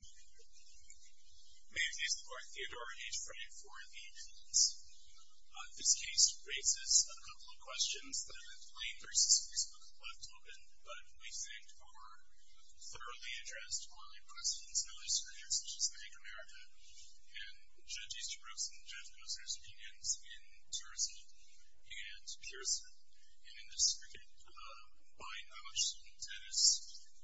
May I please invite Theodore H. Frey for the evidence. This case raises a couple of questions that have been played versus Facebook's web token, but we think are thoroughly addressed by presidents and other speakers, such as Hank America, and Judge Easterbrook's and Jeff Kossner's opinions in Jerusalem and Pearson, and in the strict mind of a student, that is,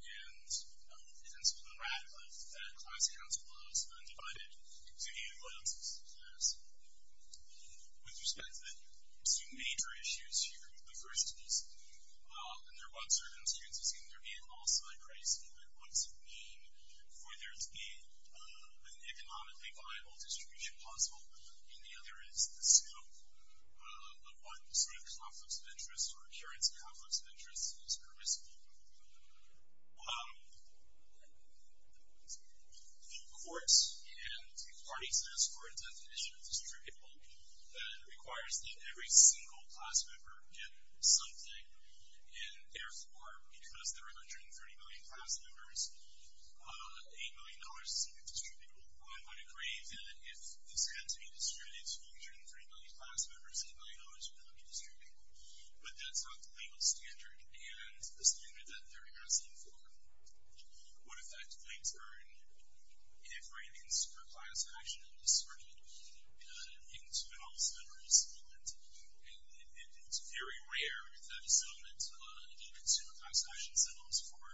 and it ends with the wrath of that class council of undivided community alliances. With respect to the two major issues here, the first is, under what circumstances can there be a loss of price, and what does it mean for there to be an economically viable distribution possible? And the other is the scope of what sort of conflicts of interest or occurrence of conflicts of interest is permissible. The courts and parties ask for a definition of distributable that requires that every single class member get something, and therefore, because there are 130 million class members, a million dollars is a good distributable. One might agree that if this had to be distributable, 130 million class members, a million dollars would not be distributable, but that's not the legal standard and the standard that they're asking for. What effect might it earn if ratings for class action are dispersed into an all-separate settlement, and it's very rare that a settlement is consumed in class action settlements for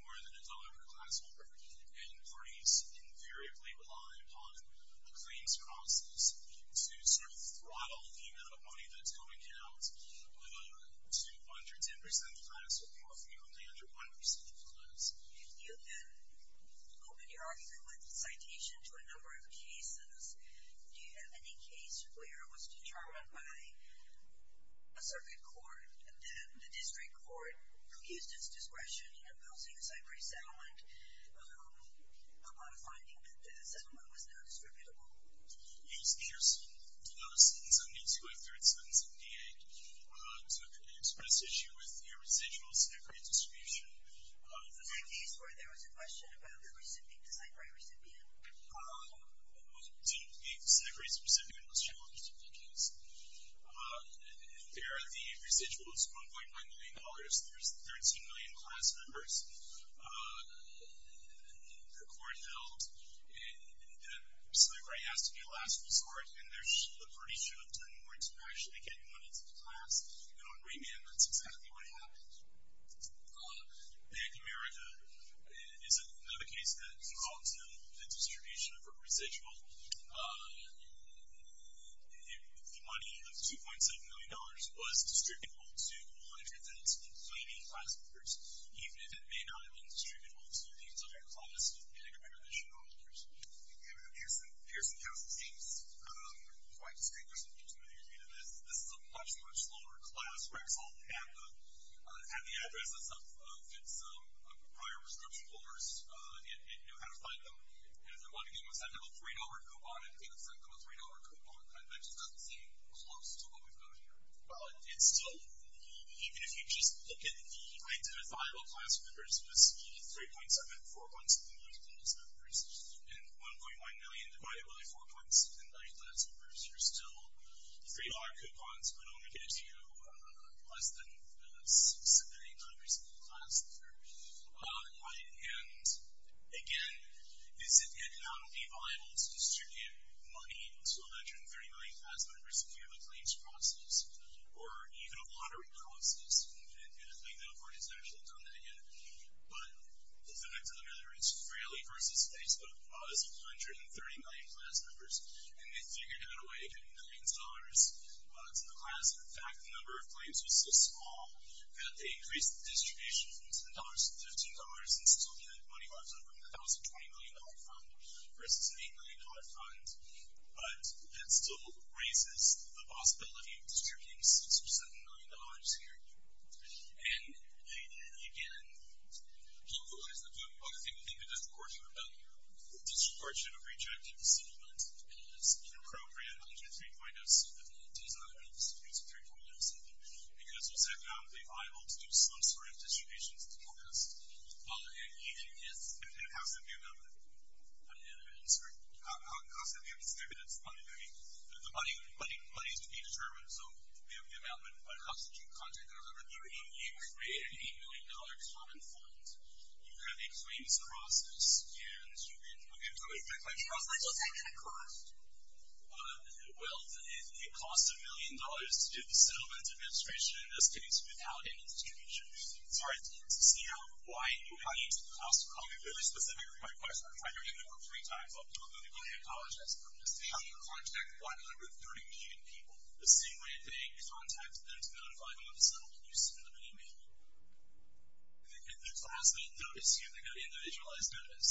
more than a dollar per class member, and parties invariably rely upon a claims process to sort of throttle the amount of money that's going out to 110% of the class or more frequently 100% of the class. If you can open your argument with citation to a number of cases, do you have any case where it was determined by a circuit court, that the district court used its discretion in imposing a separate settlement on a finding that the settlement was not distributable? Yes, here's another sentence. I'm going to go through a sentence in D.A. It's an express issue with the residual separate distribution. Is there a case where there was a question about the recipient, the separate recipient? The separate recipient was challenged in the case. There are the residuals, $1.9 million. There's 13 million class members. The court held that Sly Gray has to be the last resort, and there's a pretty show of doing more interaction and getting money into the class. You know, in Rayman, that's exactly what happened. In America, is another case that called to the distribution of a residual if the money of $2.7 million was distributable to 100 of its remaining class members, even if it may not have been distributable to the entire class of any of the additional members. Pearson County seems quite distinguished in terms of their data. This is a much, much lower class where it's all at the address of its prior prescription holders. It knew how to find them. And if they're wanting to give us that little $3 coupon, it gave us that little $3 coupon that just doesn't seem close to what we've got here. But it's still, even if you just look at the identifiable class members, this $3.7, $4.7 million class members, and $1.1 million divided by $4.7 million class members, you're still $3 coupons, but only going to do less than 6, 7, 8, 9 residual class. And, again, is it yet not only viable to distribute money to 130 million class members if you have a claims process or even a lottery process? And I think no party has actually done that yet. But the fact of the matter is Frehley versus Facebook was 130 million class members, and they figured out a way to get millions of dollars to the class. And, in fact, the number of claims was so small that they increased the distribution from $10 to $15 and still had money left over from the $1,020 million fund versus an $8 million fund. But that still raises the possibility of distributing 6 or $7 million here. And they did, again, localize the voting box. They put in the disportion of value. The disportion of rejected settlement is inappropriate under 3.0. It's a 3.0 settlement because it's economically viable to do some sort of distribution to the class. And it has to be amounted. I'm sorry. It has to be distributed. I mean, the money has to be determined. So the amount of house that you contract or whatever, you create an $8 million common fund. You have a claims process. And, again, it's not really a claim process. Well, it costs a million dollars to do the settlement administration, in this case, without any distribution. Sorry. CEO, why are you paying to the class? I'll be really specific with my question. I know you've been here three times. I apologize for this. How do you contact 130 million people? The same way they contact them to notify them of the settlement you submit an email. The class may notice you. They get individualized notice.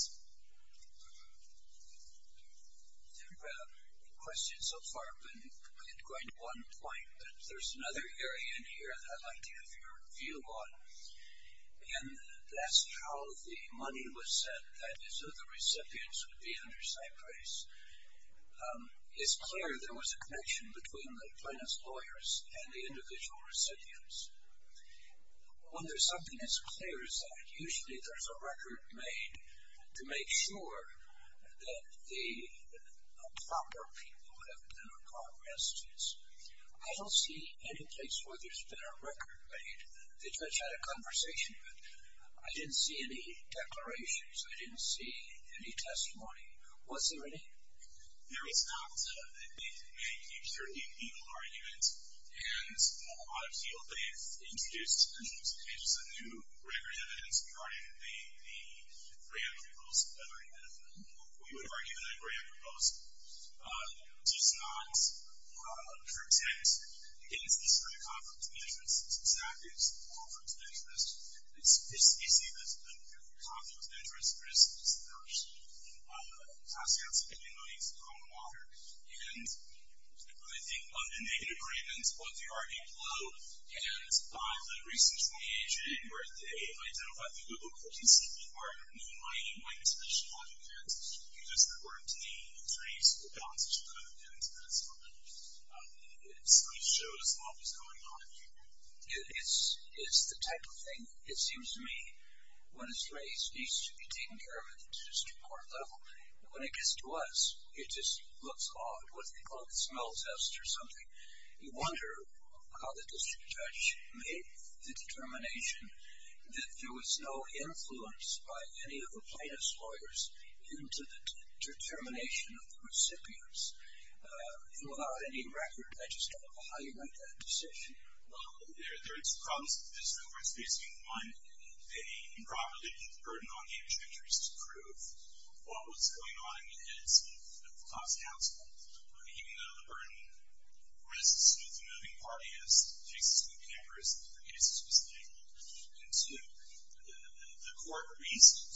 The question so far has been going to one point, but there's another area in here that I'd like to have your view on. And that's how the money was sent. That is, the recipients would be under cypress. It's clear there was a connection between the plaintiff's lawyers and the individual recipients. Well, there's something as clear as that. To make sure that the proper people who have been under car arrest is, I don't see any place where there's been a record made. They just had a conversation, but I didn't see any declarations. I didn't see any testimony. Was there any? There is not. The plaintiff made a certain legal argument, and I feel they've introduced a new record of evidence regarding the grant proposal that I had. We would argue that a grant proposal does not protect against this kind of conflict of interest. It's exactly a conflict of interest. It's basically that if you're a conflict of interest, there is a disparage. It has to do with spending money for common water. And I think in the agreement, both the argument below and by the recent 28th of January, they identified the Google Cookies as being part of a new mining and mining solution project, and you just quarantined the trace, the balance, as you put it, and that's fine. It sort of shows what was going on. It's the type of thing, it seems to me, when it's raised needs to be taken care of at the district court level. When it gets to us, it just looks odd, what they call a smell test or something. You wonder how the district judge made the determination that there was no influence by any of the plaintiff's lawyers into the determination of the recipients. And without any record, I just don't know how you make that decision. Well, there are two problems that the district court is facing. One, they improperly put the burden on the intermediaries to prove what was going on. Even though the burden rests with the moving party as it takes its own cameras in the case of Spitzley. And two, the court reasons.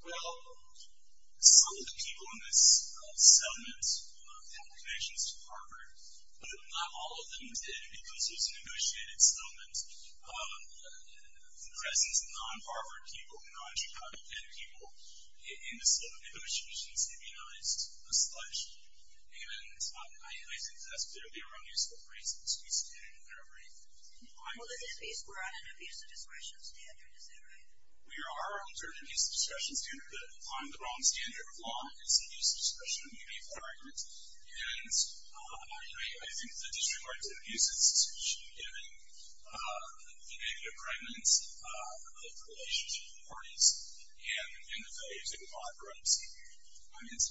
Well, some of the people in this settlement have connections to Harvard, but not all of them did because it was an negotiated settlement. The presence of non-Harvard people and non-Georgia people in the settlement negotiations immunized the sludge. And I think that's clearly a wrong use of the phrase abuse of discretion in Harvard. Well, this is based more on an abuse of discretion standard, is that right? We are under an abuse of discretion standard, but on the wrong standard of law, it's an abuse of discretion to make that argument. And I think the district court's abuse of discretion given the negative fragments of the relationship with the parties in the phase of the bankruptcy. Yes. I didn't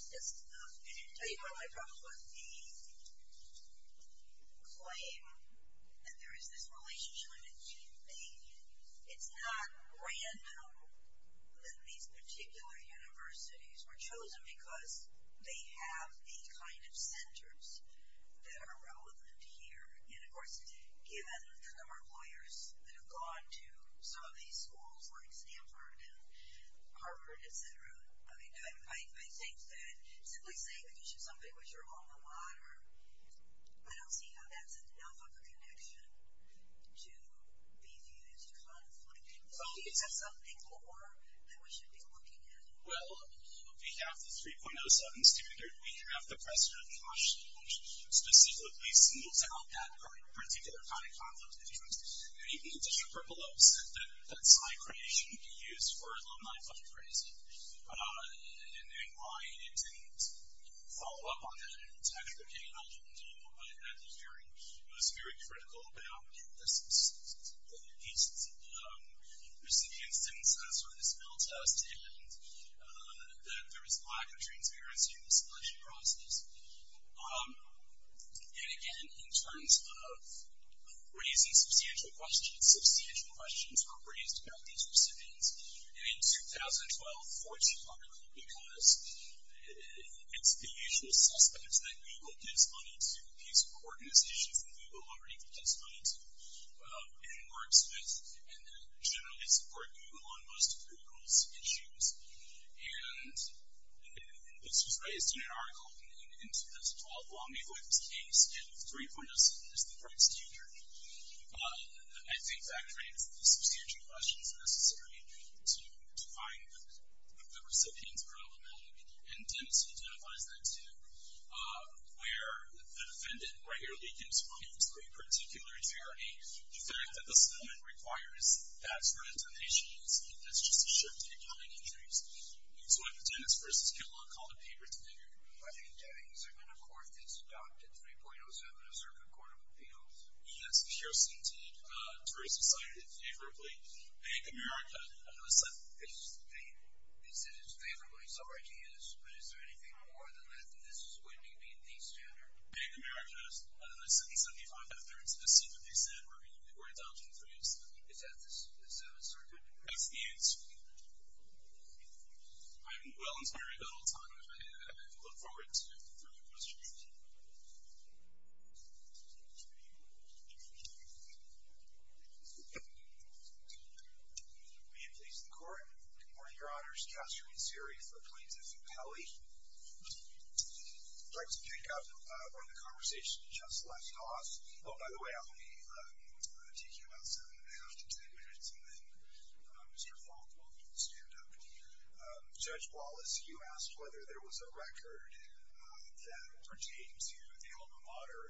tell you about my problem with the claim that there is this relationship. It's not random that these particular universities were chosen because they have the kind of centers that are relevant here. And of course, given the number of lawyers that have gone to some of these schools, like Stanford and Harvard, et cetera, I think that simply saying that you should submit what you're on the water, I don't see how that's enough of a connection to be viewed as conflict. Do you have something more that we should be looking at? Well, we have the 3.07 standard. We have the precedent of caution, which specifically smooths out that particular kind of conflict. And even the district court below said that that's not a creation you could use for alumni fundraising. And why it didn't follow up on that, and it's actually OK, and I'll get into that more when I have the hearing. It was very critical about the substance of the cases. There's the instance of sort of the spill test and that there was a lack of transparency in the selection process. And again, in terms of raising substantial questions, substantial questions were raised about these recipients in a 2012 Fortune article because it's the usual suspect that Google gives money to a piece of organization that Google already gives money to and works with and that generally support Google on most of Google's issues. And this was raised in an article in 2012 while me going through the case. And 3.07 is the right standard. I think that creates the substantial questions necessary to find the recipients are relevant. And Dennis identifies that too, where the defendant, right here, leads into one of these three particular inferiority. The fact that this moment requires that sort of intonation, that's just a shift in common interests. So I put Dennis first. It's a good look. Call the paper. It's a good look. I think Dennis is in a court that's adopted 3.07, a circuit court of appeals. And that's the CRCT jury society, favorably. Bank of America, they said it's favorably. It's already is. But is there anything more than that? And this is when you meet the standard. Bank of America, I don't know if this is in 75, but if there is, just see what they said. We're adopting 3.07. Is that a circuit? That's the answer. I'm well-inspired about all time. And I look forward to further questions. May it please the court. Good morning, your honors. Joshua Nazeri for plaintiff and pally. I'd like to pick up where the conversation just left off. Oh, by the way, I'll be taking about seven and a half to ten minutes, and then Mr. Falk will stand up. Judge Wallace, you asked whether there was a record that pertained to the alma mater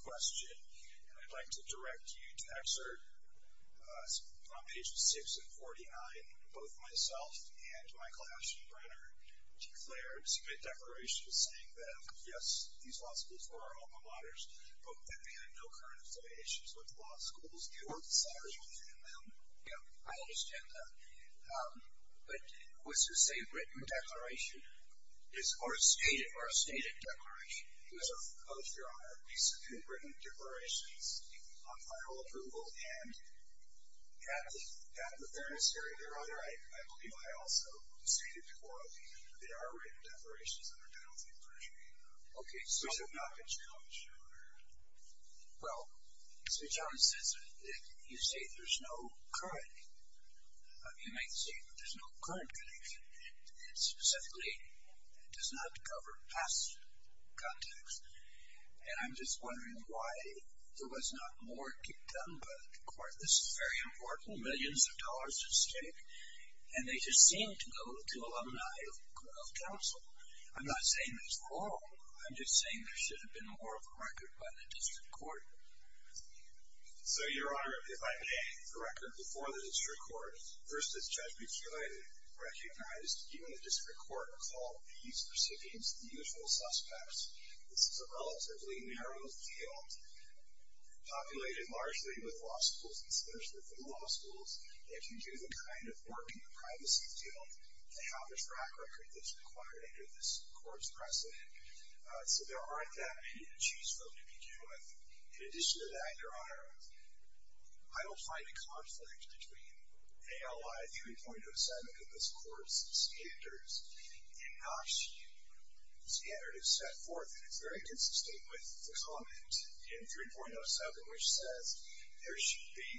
question. And I'd like to direct you to excerpt from pages 6 and 49, both myself and Michael Aschenbrenner declared, submit declarations saying that, yes, these law schools were our alma maters, but that they had no current affiliations with law schools nor desires within them. Yeah, I understand that. But was the same written declaration or a stated declaration? Both, your honor, we submit written declarations on final approval. And at the fairness hearing, your honor, I believe I also stated before the hearing that there are written declarations that are done on final approval. OK, so. Which have not been challenged, your honor. Well, Mr. Johnson, you say there's no current. You might say, but there's no current connection. It specifically does not cover past contacts. And I'm just wondering why there was not more done by the court. This is very important. Millions of dollars at stake. And they just seem to go to alumni of council. I'm not saying there's more. I'm just saying there should have been more of a record by the district court. So, your honor, if I may, the record before the district court versus Judge McEloy recognized even the district court called these recipients the usual suspects. This is a relatively narrow field. Populated largely with law schools and especially with the law schools. They can do the kind of work in the privacy field to have a track record that's required under this court's precedent. So there aren't that many to choose from to begin with. In addition to that, your honor, I don't find a conflict between ALI viewing 0.07 of this court's standards. And not standard is set forth. It's very consistent with the comment in 3.07, which says there should be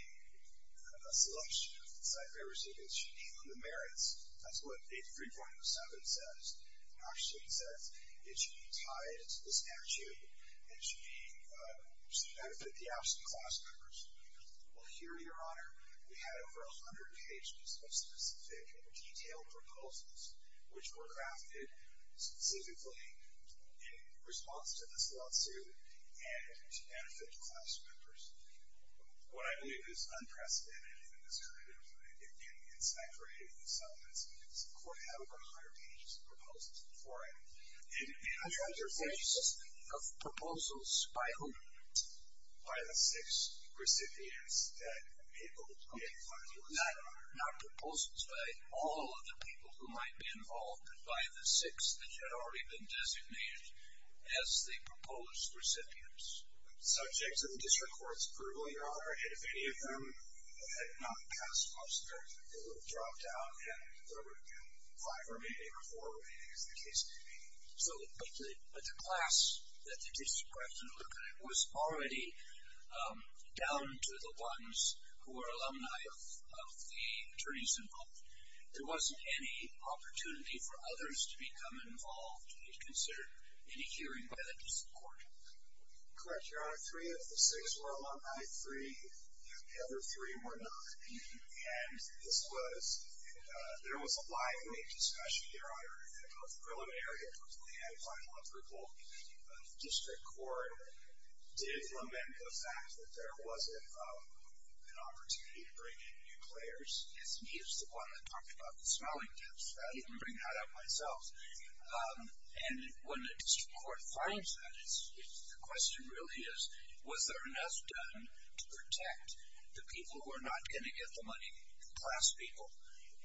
a selection of the cipher recipients should be on the merits. That's what page 3.07 says. And actually it says it should be tied to this statute and should benefit the absent class members. Well, here, your honor, we had over 100 pages of specific and detailed proposals which were crafted specifically in response to this lawsuit and to benefit the class members. What I believe is unprecedented in this period of time in getting insight for any of these elements is the court had over 100 pages of proposals before it. 100 pages of proposals? By whom? By the six recipients that the people who made the final decision on it. Not proposals by all of the people who might be involved, but by the six that had already been designated as the proposed recipients. Subject to the district court's approval, your honor, if any of them had not passed, most of them would have dropped out, and there would have been five remaining or four remaining as the case may be. But the class that the district court had to look at was already down to the ones who were alumni of the attorneys involved. There wasn't any opportunity for others to become involved to be considered in a hearing by the district court. Correct, your honor. Three of the six were alumni. Three, the other three were not. And this was, there was a lively discussion here, your honor, in the North Carolina area where they had a final approval. The district court did lament the fact that there wasn't an opportunity to bring in new players. It's me who's the one that talked about the smelling tips. I didn't bring that up myself. And when the district court finds that, the question really is, was there enough done to protect the people who are not going to get the money, the class people?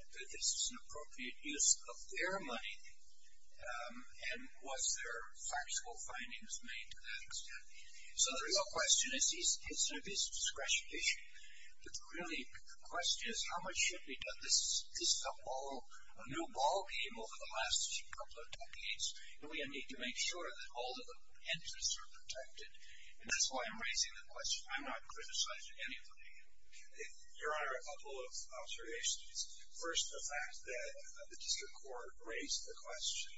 Is this an appropriate use of their money? And was there factual findings made to that extent? So the real question is, isn't this a discretion issue? But really, the question is, how much should be done? This is a new ballgame over the last couple of decades. And we need to make sure that all of the entrants are protected. And that's why I'm raising the question. I'm not criticizing anybody. Your honor, a couple of observations. First, the fact that the district court raised the question.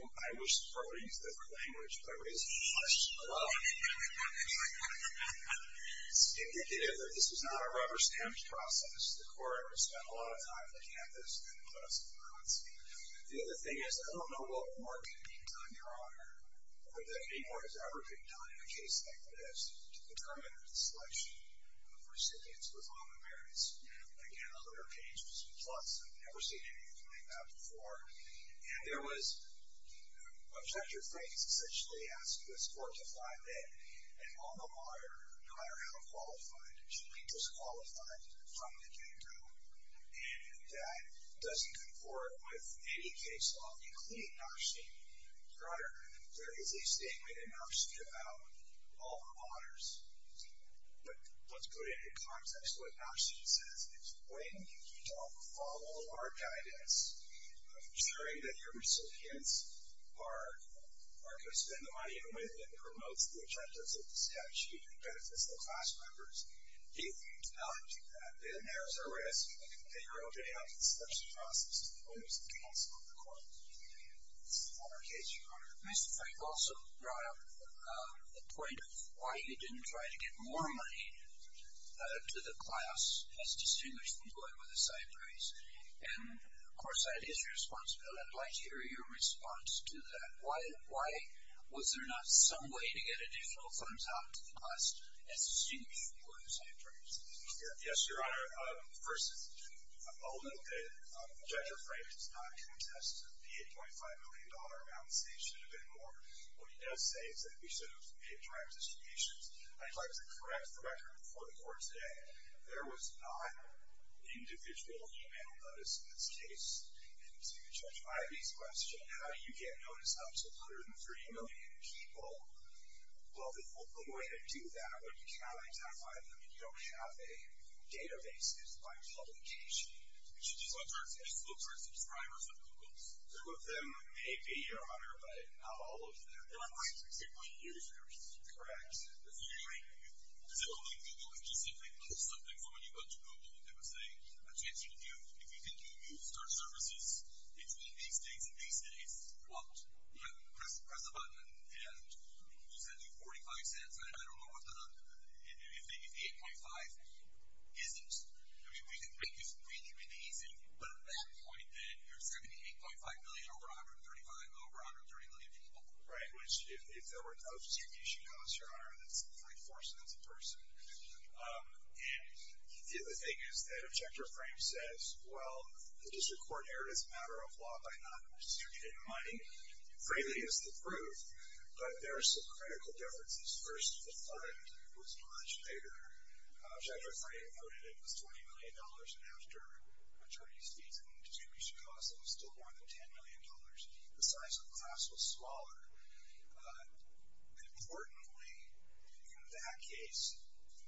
I wish the court would have used a different language, but I raised the question. Well, it's indicative that this is not a rubber stamp process. The court spent a lot of time on campus and put us across. The other thing is, I don't know what more can be done, your honor, or that anymore has ever been done in a case like this to determine the selection of recipients for common merits. Again, I look at our pages. Plus, I've never seen anything like that before. And there was objective things, essentially, asking the court to find that an alma mater, no matter how qualified, should be disqualified from the general. And that doesn't conform with any case law, including NAWQA. Your honor, there is a statement in NAWQA about all the honors. But let's put it in context. What NAWQA says is when you don't follow our guidance of ensuring that your recipients are going to spend the money with and promotes the objectives of the statute and benefits the class members, if you don't do that, then there's a risk that you're opening up a special process to the lawyers and counsel of the court. And that's not our case, your honor. Mr. Frank also brought up the point of why he didn't try to get more money to the class as distinguished employee with a side price. And of course, that is your responsibility. I'd like to hear your response to that. Why was there not some way to get additional funds out to the class as distinguished employee with a side price? Yes, your honor. First, I'll admit that Judge Frank has not contested the $8.5 million amount that he says should have been more. What he does say is that we should have made direct distributions. I'd like to correct the record before the court today. There was not individual email notice in this case. And to Judge Ivey's question, how do you get notice up to 103 million people? Well, the only way to do that when you can't identify them and you don't have a database is by publication. You should just look for subscribers of Google's. Two of them may be, your honor, but not all of them. They're not specifically users. Correct. Does it look like Google specifically posted something for when you go to Google? It was saying, attention, if you think you can use search services between these days Yeah, press the button. And Google sent you $0.45. I don't know if the $8.5 isn't. I mean, we can make this really, really easy. But at that point, then, you're sending $8.5 million over $135 million, over 130 million people. Right, which if there were no distribution notice, your honor, that's 0.4 cents a person. And the other thing is that Objector Frank says, well, the district court erred as a matter of law by not distributing money. Frankly, it's the proof. But there are some critical differences. First, the fund was much bigger. Objector Frank noted it was $20 million. And after attorney's fees and distribution costs, it was still more than $10 million. The size of the class was smaller. Importantly, in that case,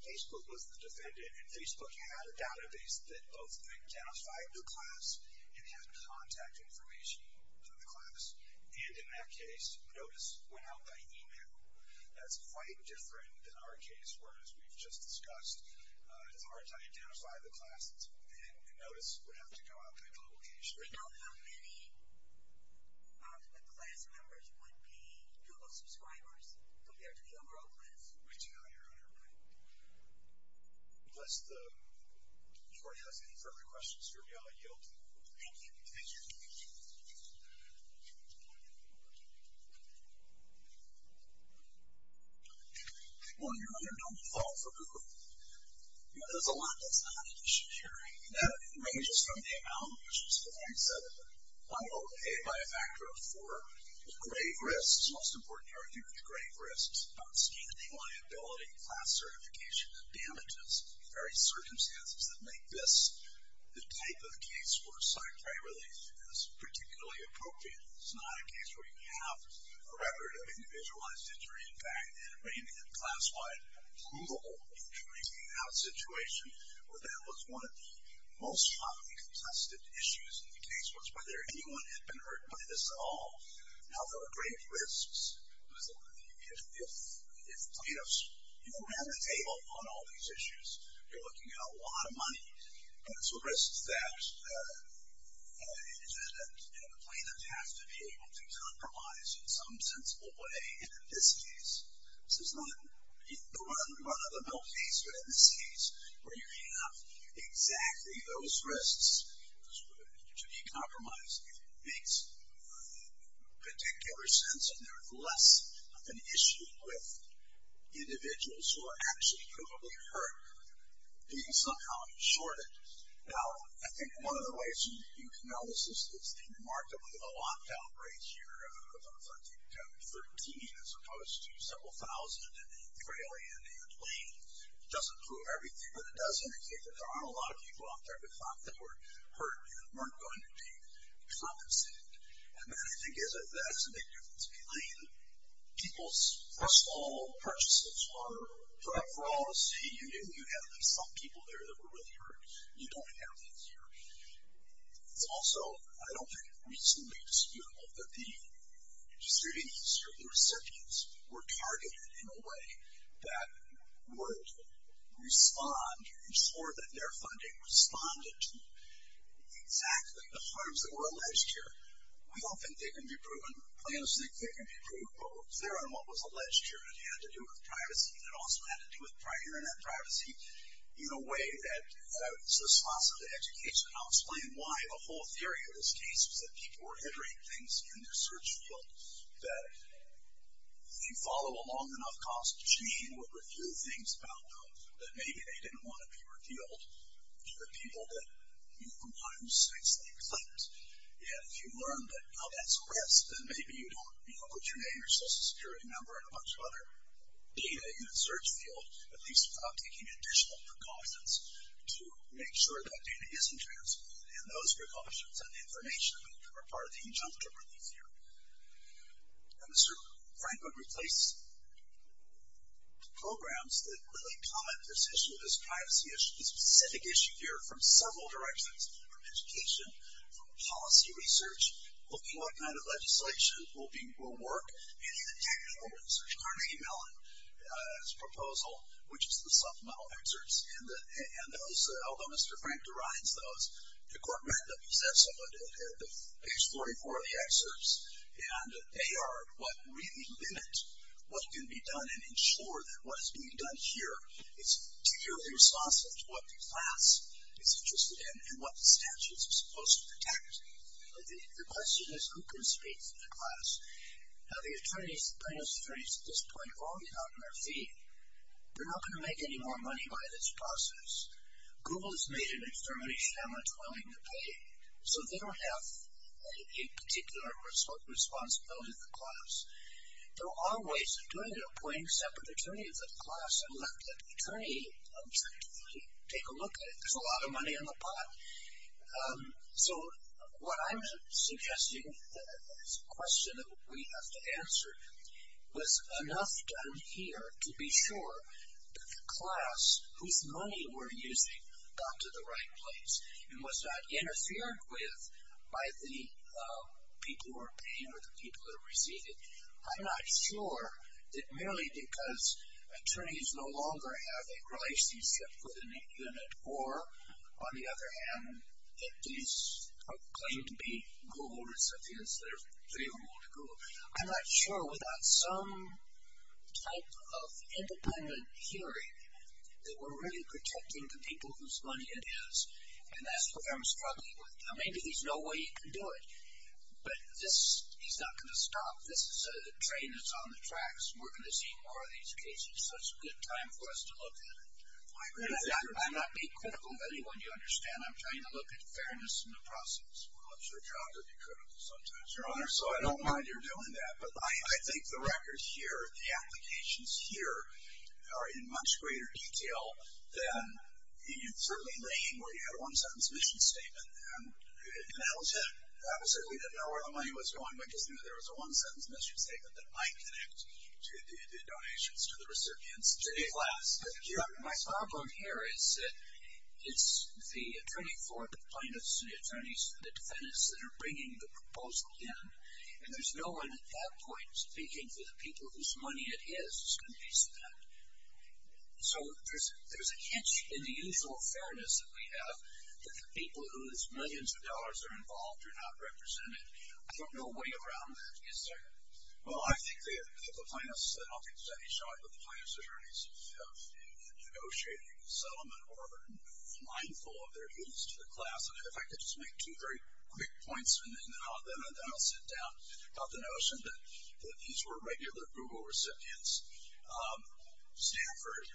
Facebook was the defendant. And Facebook had a database that both identified the class and had contact information for the class. And in that case, notice went out by email. That's quite different than our case, where, as we've just discussed, it's hard to identify the class. And notice would have to go out by publication. We don't know how many of the class members would be Google subscribers compared to the overall class. We do, your honor. Right. Unless the court has any further questions for me, I'll yield. Thank you. Thank you. Thank you. Well, your honor, don't fall for Google. There's a lot that's not an issue here. And that ranges from the amount, which is, as Frank said, $508 by a factor of 4. There's grave risks. It's most important to argue there's grave risks. Not standing liability, class certification, and damages in various circumstances that make this the type of case where a scientific relief is particularly appropriate. It's not a case where you have a record of individualized injury. In fact, in a class-wide Google injury hangout situation, that was one of the most strongly contested issues in the case, was whether anyone had been hurt by this at all. Now, there are grave risks. If you don't have a table on all these issues, you're looking at a lot of money. So risks that the plaintiff has to be able to compromise in some sensible way. And in this case, this is not the run-of-the-mill case. But in this case, where you have exactly those risks to be compromised makes particular sense. And there is less of an issue with individuals who are actually provably hurt being somehow shorted. Now, I think one of the ways you can analyze this is the remarkably low lockdown rates here in 2013, as opposed to several thousand in Italy and in Plain. It doesn't prove everything, but it does indicate that there aren't a lot of people out there who thought they were hurt and weren't going to be compensated. And then I think that's a big difference between people's personal purchases or for all to see. You had some people there that were really hurt. You don't have that here. It's also, I don't think, reasonably disputable that the distributees or the recipients were targeted in a way that would respond, ensure that their funding responded to exactly the harms that were alleged here. I don't think they can be proven. They're on what was alleged here, and it had to do with privacy, and it also had to do with prior and end privacy in a way that was responsive to education. And I'll explain why the whole theory of this case was that people were entering things in their search field that, if you follow a long enough cost chain, would reveal things about them that maybe they didn't want to be revealed to the people that, you know, from time to space, they clicked. And if you learned that, you know, that's a risk, then maybe you don't, you know, put your name or social security number and a bunch of other data in the search field, at least without taking additional precautions to make sure that data isn't transferred. And those precautions and information are part of the injunctive relief here. And Mr. Franklin replaced programs that really comment this issue, this privacy issue, this specific issue here, from several directions, from education, from policy research, looking at what kind of legislation will work, and even technical research. Carnegie Mellon's proposal, which is the supplemental excerpts, and those, although Mr. Frank derides those, the court read them, he said so, page 44 of the excerpts, and they are what really limit what can be done and ensure that what is being done here is particularly responsive to what the class is interested in and what the statutes are supposed to protect. The question is, who can speak for the class? Now, the attorneys, plaintiff's attorneys at this point have already gotten their fee. They're not going to make any more money by this process. Google has made an extremely shameless willing to pay, so they don't have a particular responsibility to the class. There are ways of doing it, appointing separate attorneys of the class and let the attorney objectively take a look at it. There's a lot of money in the pot. So what I'm suggesting, the question that we have to answer, was enough done here to be sure that the class whose money we're using got to the right place and was not interfered with by the people who are paying or the people who are receiving. I'm not sure that merely because attorneys no longer have a relationship with any unit or, on the other hand, if these claim to be Google recipients, there's three of them on Google. I'm not sure without some type of independent hearing that we're really protecting the people whose money it is, and that's what I'm struggling with. Now, maybe there's no way you can do it, but this is not going to stop. This is a train that's on the tracks. We're going to see more of these cases, so it's a good time for us to look at it. I'm not being critical of anyone, you understand. I'm trying to look at fairness in the process. Well, it's your job to be critical sometimes, Your Honor, so I don't mind you're doing that, but I think the records here, the applications here, are in much greater detail than certainly laying where you had a one-sentence mission statement. And that'll tell. I certainly didn't know where the money was going, because there was a one-sentence mission statement that might connect to the donations to the recipients. My problem here is that it's the attorney for the plaintiffs and the attorneys for the defendants that are bringing the proposal in, and there's no one at that point speaking for the people whose money it is. It's going to be spent. So there's a hitch in the usual fairness that we have that the people whose millions of dollars are involved are not represented. I don't know a way around that. Well, I think the plaintiffs, the plaintiffs attorneys have been negotiating a settlement or a line full of their dues to the class, and if I could just make two very quick points, and then I'll sit down about the notion that these were regular Google recipients. Stanford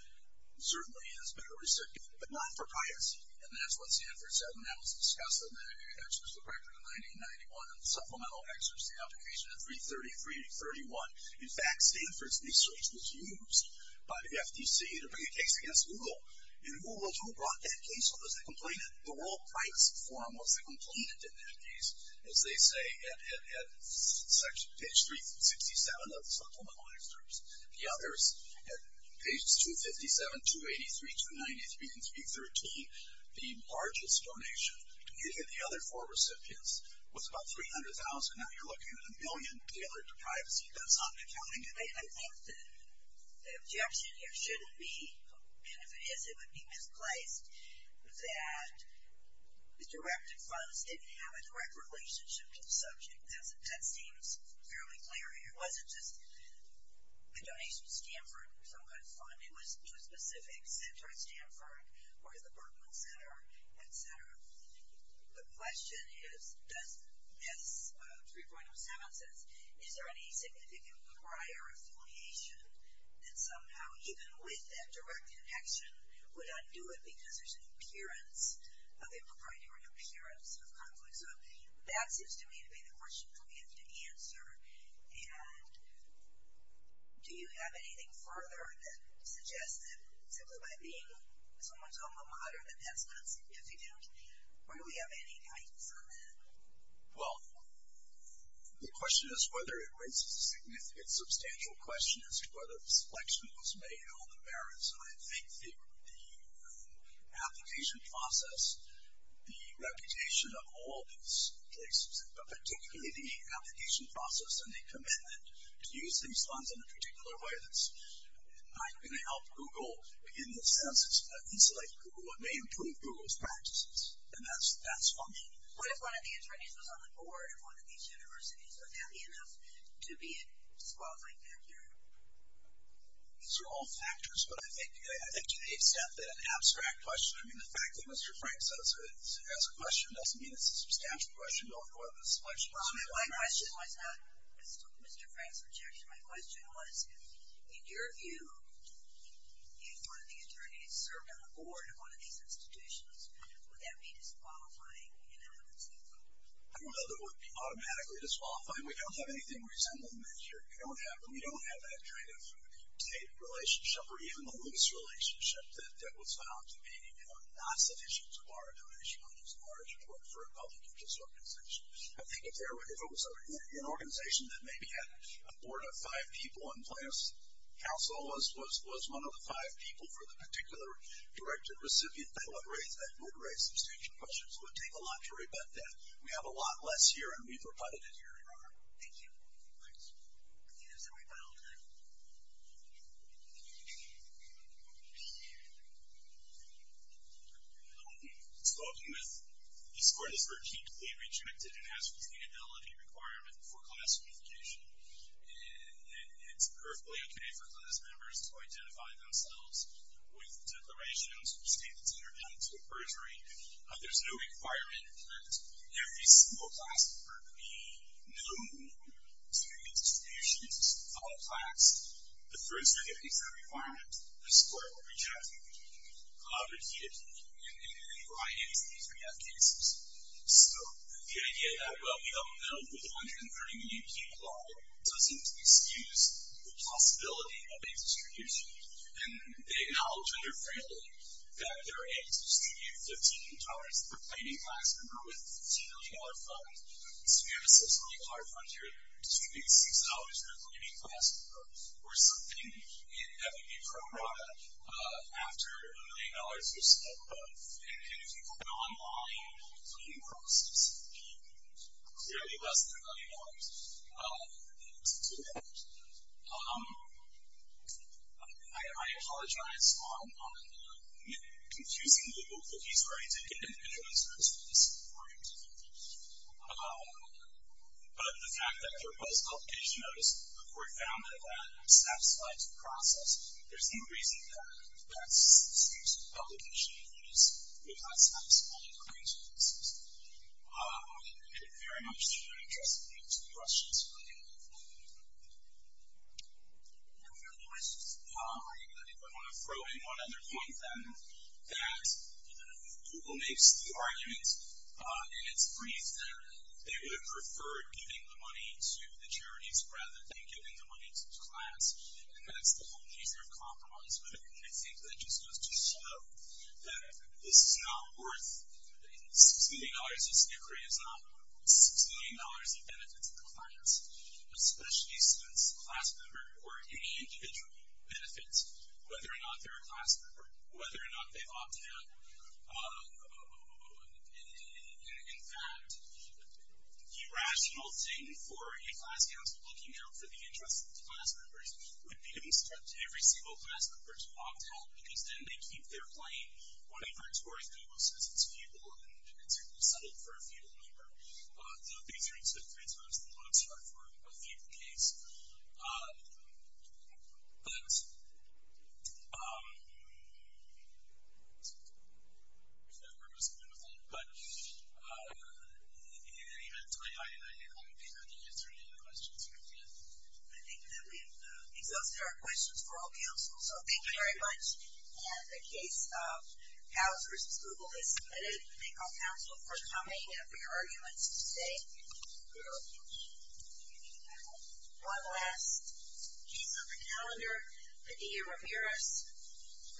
certainly has been a recipient, but not for piety, and that's what Stanford said, and that was discussed in the records of 1991 in the supplemental excerpts of the application in 333-31. In fact, Stanford's research was used by the FTC to bring a case against Google, and Google, who brought that case, was the complainant. The World Price Forum was the complainant in that case, as they say at page 367 of the supplemental excerpts. The others at pages 257, 283, 293, and 313, the largest donation given to the other four recipients was about $300,000. Now you're looking at a billion. Privacy goes on. I think the objection here shouldn't be, and if it is, it would be misplaced, that the directed funds didn't have a direct relationship to the subject. That seems fairly clear here. It wasn't just a donation to Stanford for some kind of fund. It was to a specific center at Stanford or to the Berkman Center, etc. The question is, as 3.07 says, is there any significant prior affiliation that somehow, even with that direct connection, would undo it because there's an appearance of impropriety or an appearance of conflict? So that seems to me to be the question that we have to answer, and do you have anything further that suggests that simply by being someone's alma mater that that's not significant? Or do we have any guidance on that? Well, the question is whether it raises a significant substantial question as to whether the selection was made on the merits. And I think the application process, the reputation of all these places, but particularly the application process and the commitment to use these funds in a particular way that's not going to help Google in the sense that things like Google may improve Google's practices, and that's functional. What if one of the attorneys was on the board of one of these universities? Would that be enough to be in squabbling there? These are all factors, but I think to accept that abstract question, I mean, the fact that Mr. Frank says it as a question doesn't mean it's a substantial question or whether the selection was made on the merits. My question was not Mr. Frank's objection. My question was, in your view, if one of the attorneys served on the board of one of these institutions, would that be disqualifying in evidence? I don't know that it would be automatically disqualifying. We don't have anything resembling that here. We don't have that kind of state relationship or even the loose relationship that was found to be not sufficient to bar a donation on this large report for a public interest organization. I think if it was an organization that maybe had a board of five people in place, Council was one of the five people for the particular directed recipient. I would raise that. I would raise substantial questions. It would take a lot to rebut that. We have a lot less here, and we've reputted it here in our... Thank you. Spoken with. This court is very deeply rejected and has retained a levy requirement for class reunification, and it's perfectly okay for class members to identify themselves with declarations or state that's interrelated to a perjury. There's no requirement that every single class of Berkeley known to the institutions, all class, but for a certificate exam requirement, this court will reject it. So the idea that, well, we have a bill with 130 million people on it doesn't excuse the possibility of a distribution, and they acknowledge under Fraley that they're able to distribute 15 dollars per cleaning class member with a $10 million fund. So you have a $60 million fund here distributing $6 for a cleaning class member or something, and that would be pro rata after a million dollars or so. And if you go online, the cleaning costs would be clearly less than a million dollars. I apologize on the confusing legal cookies where I didn't get an individual answer as to this point. But the fact that there was a publication notice, the court found that that satisfied the process. There's no reason that that's the excuse of the publication notice would not satisfy the cleaning services. I think I've made it very much clear to address the questions you're looking at. Are there more questions? I think I want to throw in one other point, that Google makes the argument in its brief that they would have preferred giving the money to the charities rather than giving the money to the class, and that's the whole nature of compromise, but I think that just goes to show that this is not worth $6 million, this decree is not worth $6 million in benefits to the class, especially students, class member, or any individual benefits, whether or not they're a class member, whether or not they opt out. In fact, the rational thing for a class council looking out for the interests of the class members would be to instruct every single class member to opt out, because then they keep their plain or inventory, Google says it's feudal, and it's settled for a feudal member. So these are two things, but I just didn't want to instruct for a feudal case. In any event, I think I've answered your questions, and I think that we've exhausted our questions for all councils, so thank you very much, and the case of House v. Google is submitted. Thank all council for coming, and for your arguments today. One last piece of the calendar, Padilla-Ramirez v. Riley.